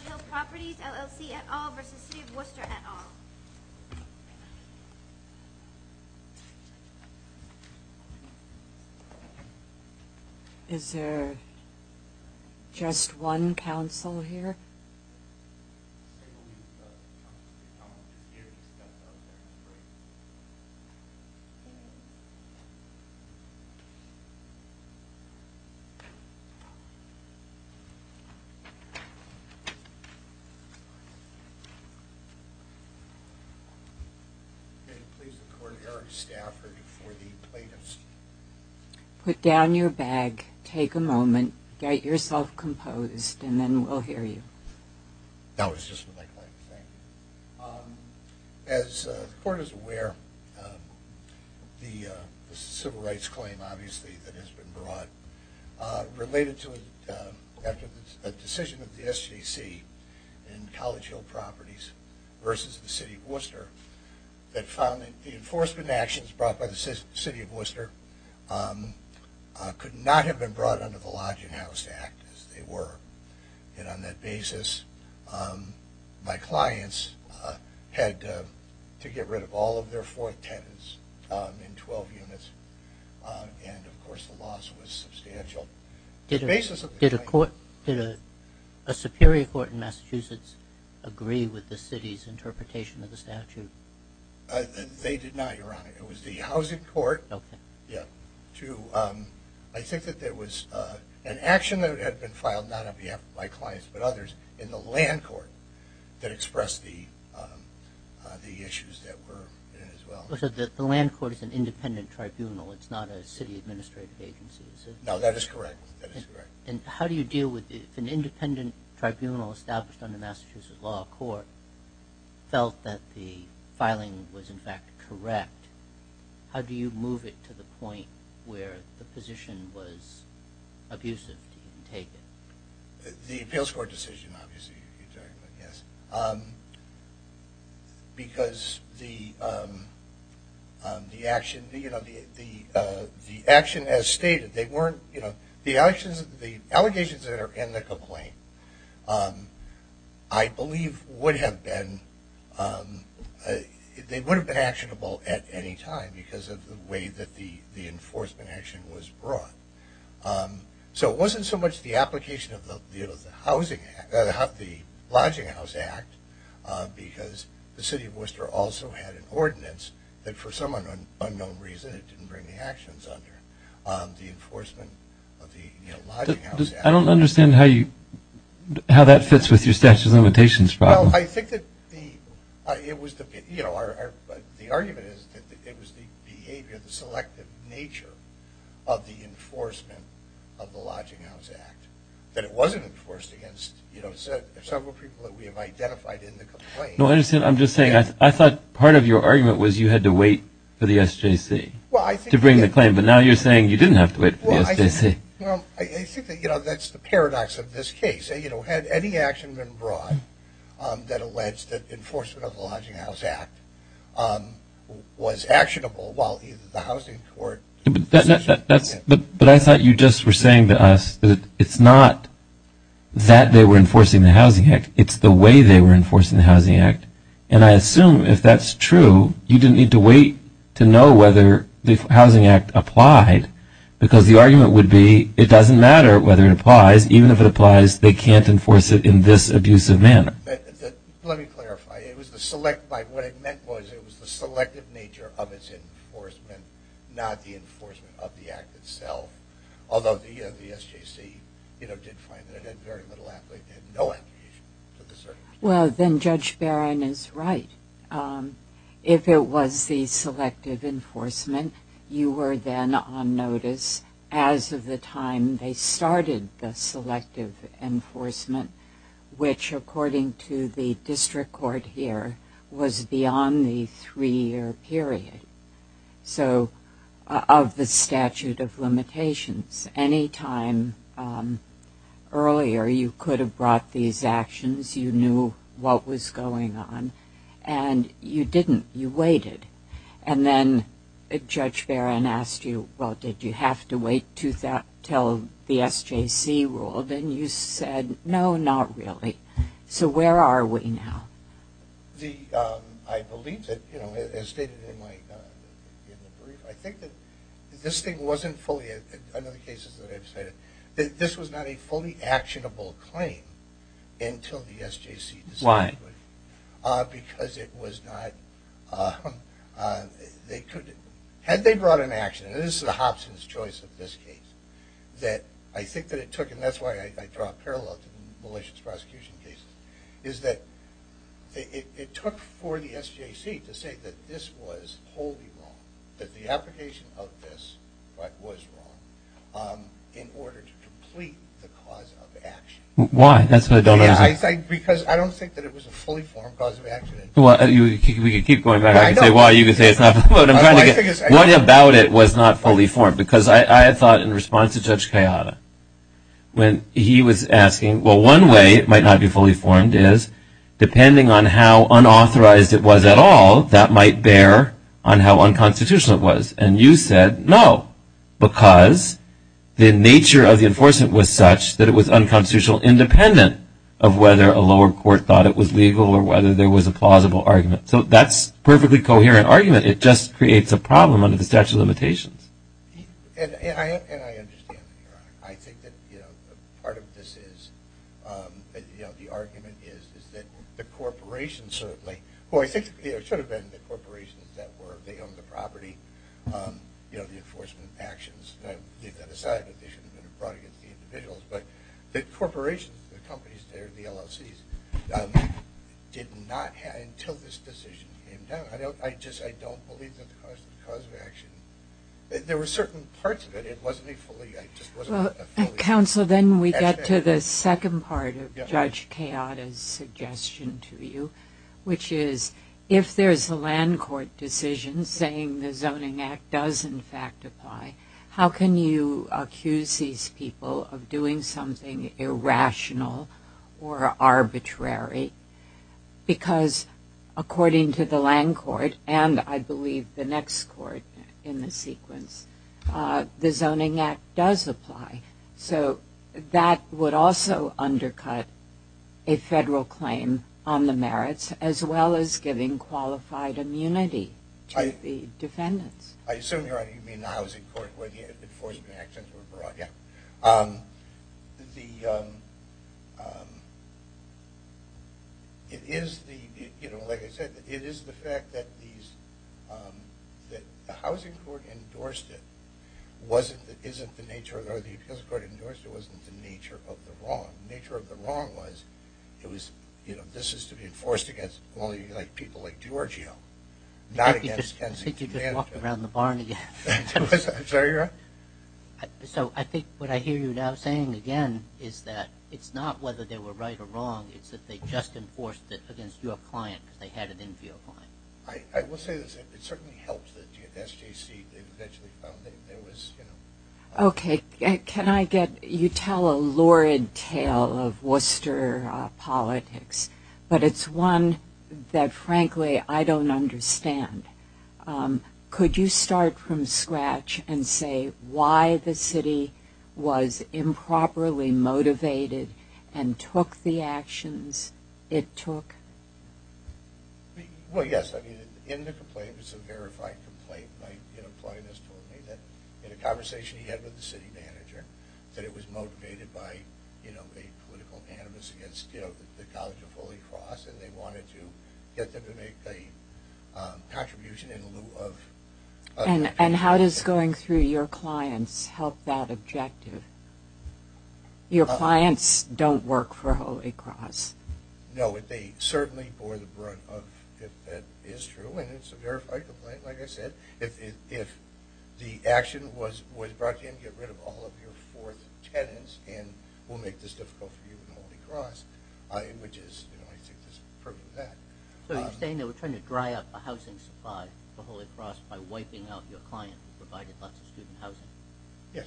Hill Properties, LLC at all versus City of Worcester at all. Is there just one council here? Put down your bag, take a moment, get yourself composed, and then we'll hear you. As the court is aware, the civil rights claim, obviously, that has been brought related to it after the decision of the SGC and College Hill Properties versus the City of Worcester that found that the enforcement actions brought by the City of Worcester could not have been brought under the Lodging House Act as they were, and on that basis, my clients had to get rid of all of their fourth tenants in 12 units, and of course the loss was substantial. Did a Superior Court in Massachusetts agree with the City's interpretation of the statute? They did not, Your Honor. It was the Housing Court. I think that there was an action that had been filed, not on behalf of my clients but others, in the Land Court that expressed the issues that were in it as well. So the Land Court is an independent tribunal, it's not a City administrative agency, is it? No, that is correct. And how do you deal with, if an independent tribunal established under Massachusetts Law Court felt that the filing was in fact correct, how do you move it to the point where the position was abusive? The appeals court decision, obviously. Because the action as stated, the allegations that are in the complaint, I believe would have been actionable at any time because of the way that the enforcement action was brought. So it wasn't so much the application of the Housing Act, the Lodging House Act, because the City of Worcester also had an ordinance that for some unknown reason it didn't bring the actions under, the enforcement of the Lodging House Act. I don't understand how that fits with your statute of limitations problem. The argument is that it was the behavior, the selective nature of the enforcement of the Lodging House Act, that it wasn't enforced against several people that we have identified in the complaint. No, I understand, I'm just saying, I thought part of your argument was you had to wait for the SJC to bring the claim, but now you're saying you didn't have to wait for the SJC. Well, I think that's the paradox of this case. Had any action been brought that alleged that enforcement of the Lodging House Act was actionable while the housing court... But I thought you just were saying to us that it's not that they were enforcing the Housing Act, it's the way they were enforcing the Housing Act. And I assume if that's true, you didn't need to wait to know whether the Housing Act applied, because the argument would be it doesn't matter whether it applies, even if it applies, they can't enforce it in this abusive manner. Let me clarify, it was the select, what I meant was it was the selective nature of its enforcement, not the enforcement of the act itself. Although the SJC did find that it had very little application, no application. Well, then Judge Barron is right. If it was the selective enforcement, you were then on notice as of the time they started the selective enforcement, which according to the district court here, was beyond the three-year period. So of the statute of limitations, any time earlier you could have brought these actions, you knew what was going on, and you didn't, you waited. And then Judge Barron asked you, well, did you have to wait until the SJC ruled? And you said, no, not really. So where are we now? I believe that, you know, as stated in the brief, I think that this thing wasn't fully, in other cases that I've cited, that this was not a fully actionable claim until the SJC decided. Why? Because it was not, they could, had they brought an action, and this is the Hobson's choice of this case, that I think that it took, and that's why I draw a parallel to the malicious prosecution cases, is that it took for the SJC to say that this was wholly wrong, that the application of this was wrong, in order to complete the cause of action. Why? That's what I don't understand. Because I don't think that it was a fully formed cause of action. Well, we could keep going back. I could say why. You could say it's not. What about it was not fully formed? Because I thought, in response to Judge Kayada, when he was asking, well, one way it might not be fully formed is, depending on how unauthorized it was at all, that might bear on how unconstitutional it was. And you said, no, because the nature of the enforcement was such that it was unconstitutional, independent of whether a lower court thought it was legal or whether there was a plausible argument. So that's a perfectly coherent argument. It just creates a problem under the statute of limitations. And I understand that you're on it. I think that part of this is, you know, the argument is, is that the corporations certainly – well, I think it should have been the corporations that were – they owned the property. You know, the enforcement actions. Leave that aside, but they should have been brought against the individuals. But the corporations, the companies there, the LLCs, did not – until this decision came down. I just – I don't believe that the cause of action – there were certain parts of it. It wasn't a fully – it just wasn't a fully – Counsel, then we get to the second part of Judge Kayada's suggestion to you, which is, if there's a land court decision saying the Zoning Act does, in fact, apply, how can you accuse these people of doing something irrational or arbitrary? Because, according to the land court, and I believe the next court in the sequence, the Zoning Act does apply. So that would also undercut a federal claim on the merits, as well as giving qualified immunity to the defendants. I assume you mean the housing court where the enforcement actions were brought. Yeah. The – it is the – you know, like I said, it is the fact that these – that the housing court endorsed it wasn't – isn't the nature of – or the appeals court endorsed it wasn't the nature of the wrong. The nature of the wrong was it was – you know, this is to be enforced against only, like, people like Giorgio, not against Kenzie – I think you just walked around the barn again. I'm sorry, your Honor? So I think what I hear you now saying again is that it's not whether they were right or wrong. It's that they just enforced it against your client because they had it in for your client. I will say this. It certainly helps that the SJC eventually found that there was, you know – Okay. Can I get – you tell a lurid tale of Worcester politics, but it's one that, frankly, I don't understand. Could you start from scratch and say why the city was improperly motivated and took the actions it took? Well, yes. I mean, in the complaint, it was a verified complaint. My client has told me that in a conversation he had with the city manager that it was motivated by, you know, a political animus against, you know, the College of Holy Cross, and they wanted to get them to make a contribution in lieu of – And how does going through your clients help that objective? Your clients don't work for Holy Cross. No, they certainly bore the brunt of – if that is true, and it's a verified complaint, like I said. If the action was brought in, get rid of all of your fourth tenants and we'll make this difficult for you and Holy Cross, which is, you know, I think is proof of that. So you're saying they were trying to dry up a housing supply for Holy Cross by wiping out your client who provided lots of student housing? Yes.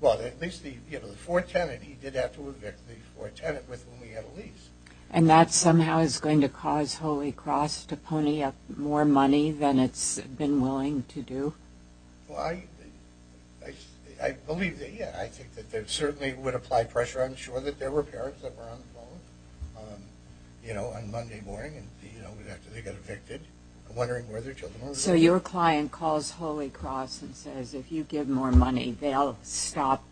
Well, at least the, you know, the fourth tenant, he did have to evict the fourth tenant with whom he had a lease. And that somehow is going to cause Holy Cross to pony up more money than it's been willing to do? Well, I believe – yeah, I think that there certainly would apply pressure. I'm sure that there were parents that were on the phone, you know, on Monday morning, you know, after they got evicted, wondering where their children were. So your client calls Holy Cross and says, if you give more money, they'll stop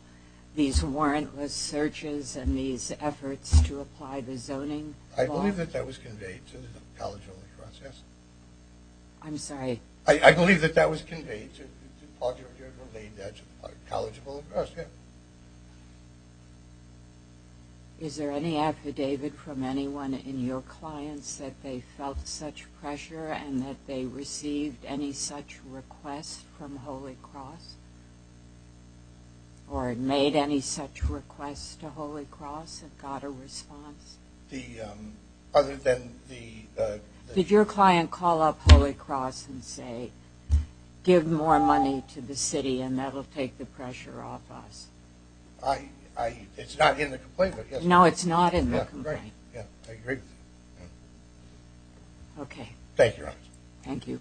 these warrantless searches and these efforts to apply the zoning law? I believe that that was conveyed to the College of Holy Cross, yes. I'm sorry. I believe that that was conveyed to the College of Holy Cross, yes. Is there any affidavit from anyone in your clients that they felt such pressure and that they received any such request from Holy Cross or made any such request to Holy Cross and got a response? The – other than the – Did your client call up Holy Cross and say, give more money to the city and that will take the pressure off us? I – it's not in the complaint, but yes. No, it's not in the complaint. Yeah, I agree. Okay. Thank you, Your Honor. Thank you.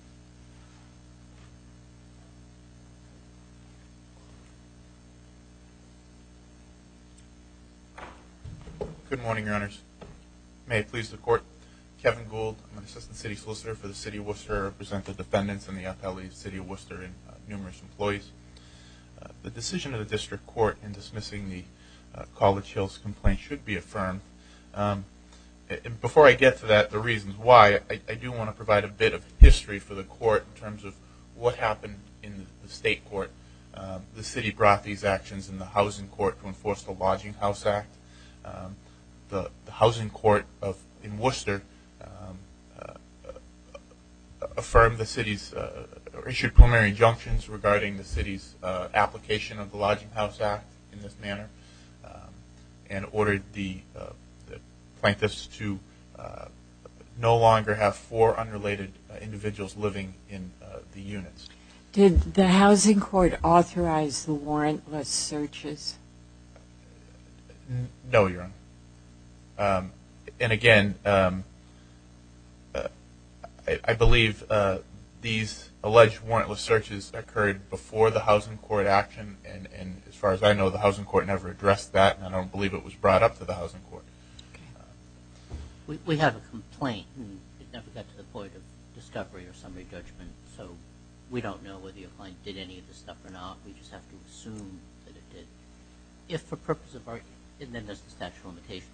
Good morning, Your Honors. May it please the Court. Kevin Gould, I'm an Assistant City Solicitor for the City of Worcester. I represent the defendants in the FLE City of Worcester and numerous employees. The decision of the District Court in dismissing the College Hills complaint should be affirmed. Before I get to that, the reasons why, I do want to provide a bit of history for the Court in terms of what happened in the State Court. The City brought these actions in the Housing Court to enforce the Lodging House Act. The Housing Court in Worcester affirmed the City's – issued primary injunctions regarding the City's application of the Lodging House Act in this manner and ordered the plaintiffs to no longer have four unrelated individuals living in the units. Did the Housing Court authorize the warrantless searches? No, Your Honor. And again, I believe these alleged warrantless searches occurred before the Housing Court action and as far as I know, the Housing Court never addressed that and I don't believe it was brought up to the Housing Court. We have a complaint and it never got to the point of discovery or summary judgment, so we don't know whether your client did any of this stuff or not. We just have to assume that it did. If for purpose of – and then there's the Statute of Limitations.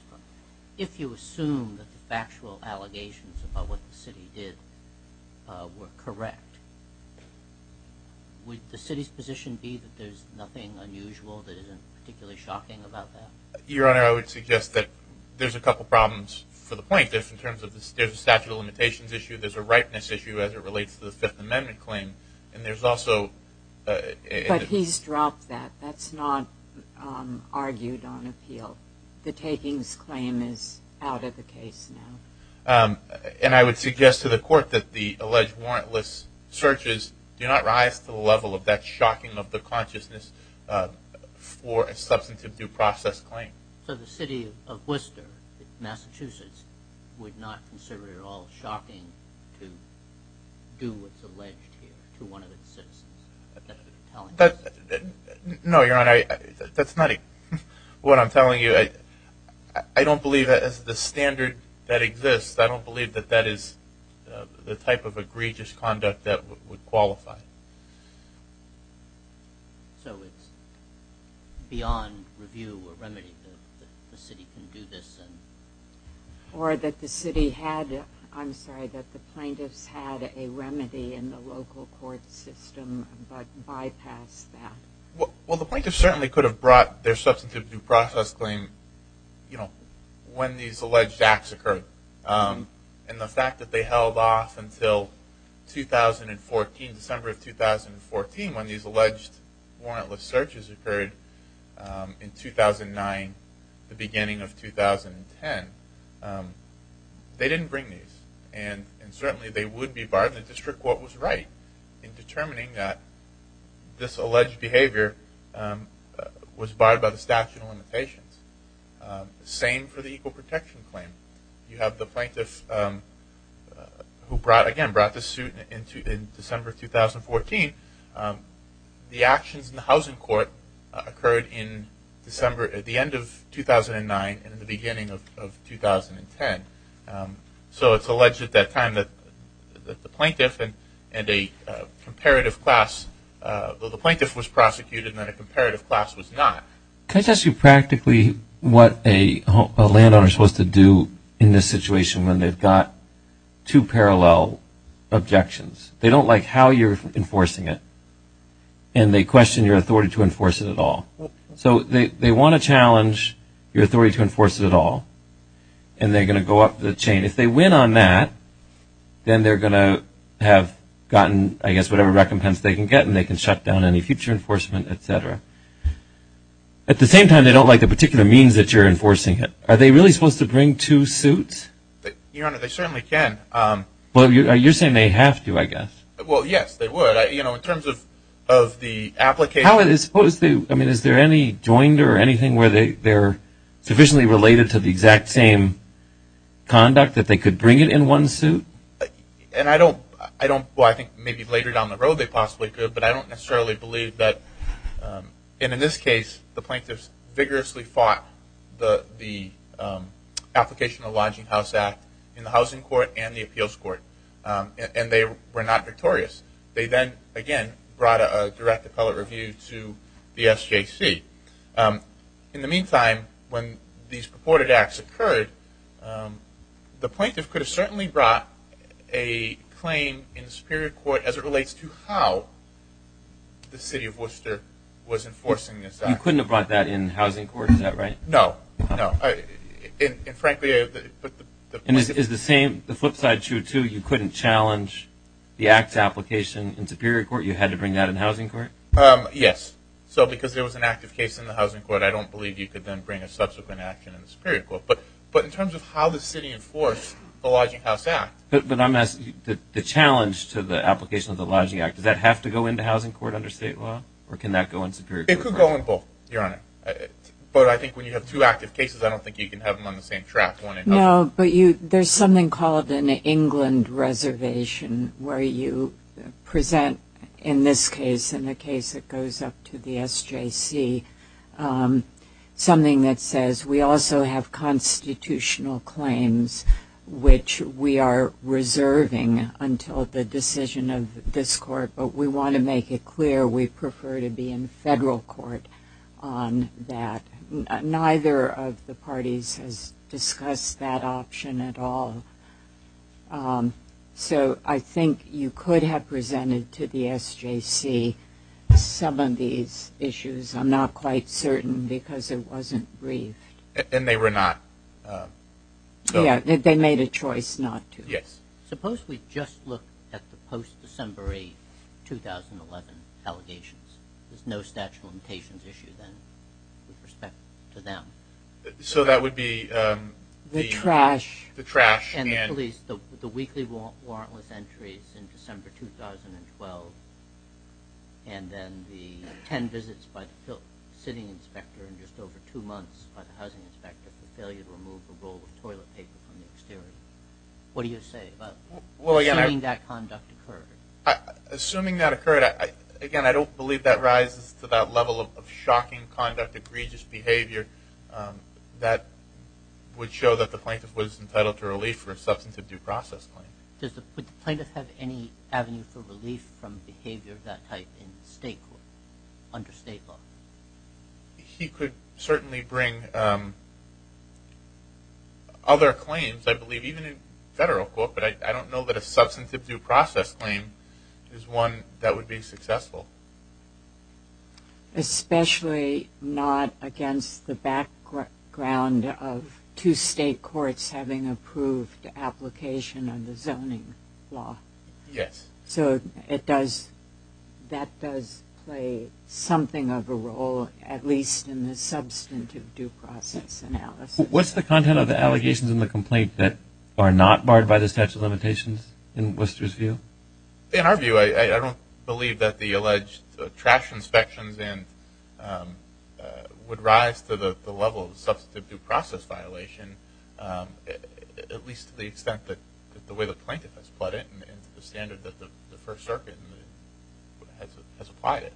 If you assume that the factual allegations about what the City did were correct, would the City's position be that there's nothing unusual that isn't particularly shocking about that? Your Honor, I would suggest that there's a couple problems for the plaintiffs in terms of there's a Statute of Limitations issue, there's a ripeness issue as it relates to the Fifth Amendment claim, and there's also – But he's dropped that. That's not argued on appeal. The takings claim is out of the case now. And I would suggest to the Court that the alleged warrantless searches do not rise to the level of that shocking of the consciousness for a substantive due process claim. So the City of Worcester, Massachusetts, would not consider it at all shocking to do what's alleged here to one of its citizens. No, Your Honor, that's not what I'm telling you. I don't believe that's the standard that exists. I don't believe that that is the type of egregious conduct that would qualify. So it's beyond review or remedy that the City can do this? Or that the City had – I'm sorry, that the plaintiffs had a remedy in the local court system but bypassed that? Well, the plaintiffs certainly could have brought their substantive due process claim when these alleged acts occurred. And the fact that they held off until 2014, December of 2014, when these alleged warrantless searches occurred in 2009, the beginning of 2010, they didn't bring these. And certainly they would be barred. And the district court was right in determining that this alleged behavior was barred by the statute of limitations. Same for the equal protection claim. You have the plaintiff who, again, brought this suit in December of 2014 and the actions in the housing court occurred in December – at the end of 2009 and the beginning of 2010. So it's alleged at that time that the plaintiff and a comparative class – the plaintiff was prosecuted and a comparative class was not. Can I ask you practically what a landowner is supposed to do in this situation when they've got two parallel objections? They don't like how you're enforcing it and they question your authority to enforce it at all. So they want to challenge your authority to enforce it at all and they're going to go up the chain. If they win on that, then they're going to have gotten, I guess, whatever recompense they can get and they can shut down any future enforcement, et cetera. At the same time, they don't like the particular means that you're enforcing it. Are they really supposed to bring two suits? Your Honor, they certainly can. Well, you're saying they have to, I guess. Well, yes, they would. In terms of the application – How is it supposed to – I mean, is there any joinder or anything where they're sufficiently related to the exact same conduct that they could bring it in one suit? And I don't – well, I think maybe later down the road they possibly could, but I don't necessarily believe that – and in this case, the plaintiffs vigorously fought the application of the Lodging House Act in the Housing Court and the Appeals Court, and they were not victorious. They then, again, brought a direct appellate review to the SJC. In the meantime, when these purported acts occurred, the plaintiff could have certainly brought a claim in the Superior Court as it relates to how the City of Worcester was enforcing this act. You couldn't have brought that in the Housing Court, is that right? No, no. And frankly – And is the same – the flip side to it, too, you couldn't challenge the act's application in Superior Court? You had to bring that in Housing Court? Yes. So because there was an active case in the Housing Court, I don't believe you could then bring a subsequent action in the Superior Court. But in terms of how the City enforced the Lodging House Act – But I'm asking – the challenge to the application of the Lodging Act, does that have to go into Housing Court under state law, or can that go in Superior Court? It could go in both, Your Honor. But I think when you have two active cases, I don't think you can have them on the same track. No, but there's something called an England reservation where you present, in this case, in the case that goes up to the SJC, something that says we also have constitutional claims but we want to make it clear we prefer to be in federal court on that. Neither of the parties has discussed that option at all. So I think you could have presented to the SJC some of these issues. I'm not quite certain because it wasn't briefed. And they were not. Yeah, they made a choice not to. Yes. Suppose we just look at the post-December 8, 2011, allegations. There's no statute of limitations issue then with respect to them. So that would be the trash and – The trash and the police – the weekly warrantless entries in December 2012 and then the ten visits by the City Inspector and just over two months by the Housing Inspector for failure to remove a roll of toilet paper from the exterior. What do you say about assuming that conduct occurred? Assuming that occurred, again, I don't believe that rises to that level of shocking conduct, egregious behavior that would show that the plaintiff was entitled to relief for a substantive due process claim. Would the plaintiff have any avenue for relief from behavior of that type in state court under state law? He could certainly bring other claims, I believe, even in federal court, but I don't know that a substantive due process claim is one that would be successful. Especially not against the background of two state courts having approved the application of the zoning law. Yes. So it does – that does play something of a role, at least in the substantive due process analysis. What's the content of the allegations in the complaint that are not barred by the statute of limitations in Worcester's view? In our view, I don't believe that the alleged trash inspections would rise to the level of substantive due process violation, at least to the extent that the way the plaintiff has put it into the standard that the First Circuit has applied it.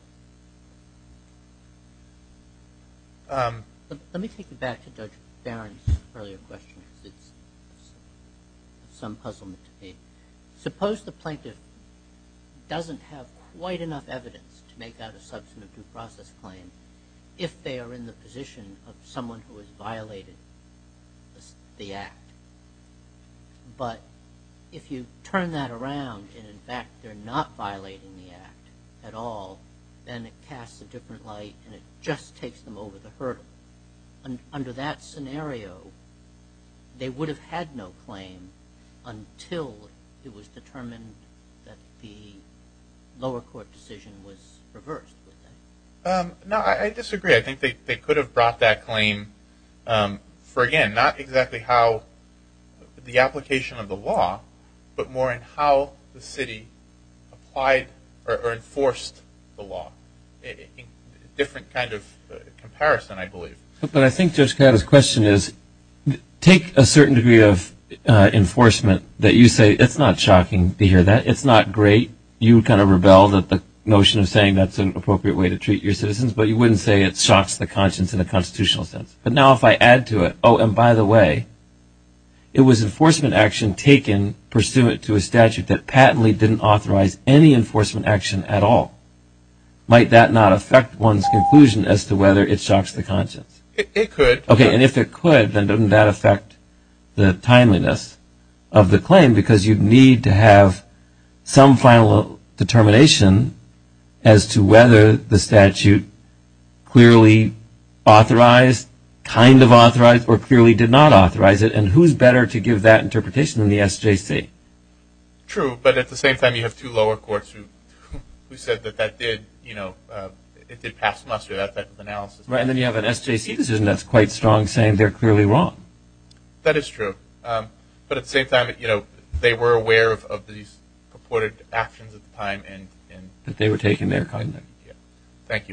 Let me take you back to Judge Barron's earlier question because it's some puzzlement to me. Suppose the plaintiff doesn't have quite enough evidence to make out a substantive due process claim if they are in the position of someone who has violated the act. But if you turn that around and, in fact, they're not violating the act at all, then it casts a different light and it just takes them over the hurdle. Under that scenario, they would have had no claim until it was determined that the lower court decision was reversed. No, I disagree. Not exactly how the application of the law, but more in how the city applied or enforced the law. A different kind of comparison, I believe. But I think Judge Kaddas' question is, take a certain degree of enforcement that you say, it's not shocking to hear that, it's not great. You would kind of rebel that the notion of saying that's an appropriate way to treat your citizens, but you wouldn't say it shocks the conscience in a constitutional sense. But now if I add to it, oh, and by the way, it was enforcement action taken pursuant to a statute that patently didn't authorize any enforcement action at all. Might that not affect one's conclusion as to whether it shocks the conscience? It could. Okay, and if it could, then doesn't that affect the timeliness of the claim because you'd need to have some final determination as to whether the statute clearly authorized, kind of authorized, or clearly did not authorize it, and who's better to give that interpretation than the SJC? True, but at the same time you have two lower courts who said that that did, you know, it did pass muster, that type of analysis. Right, and then you have an SJC decision that's quite strong saying they're clearly wrong. That is true. But at the same time, you know, they were aware of these purported actions at the time. That they were taken there kindly. Thank you.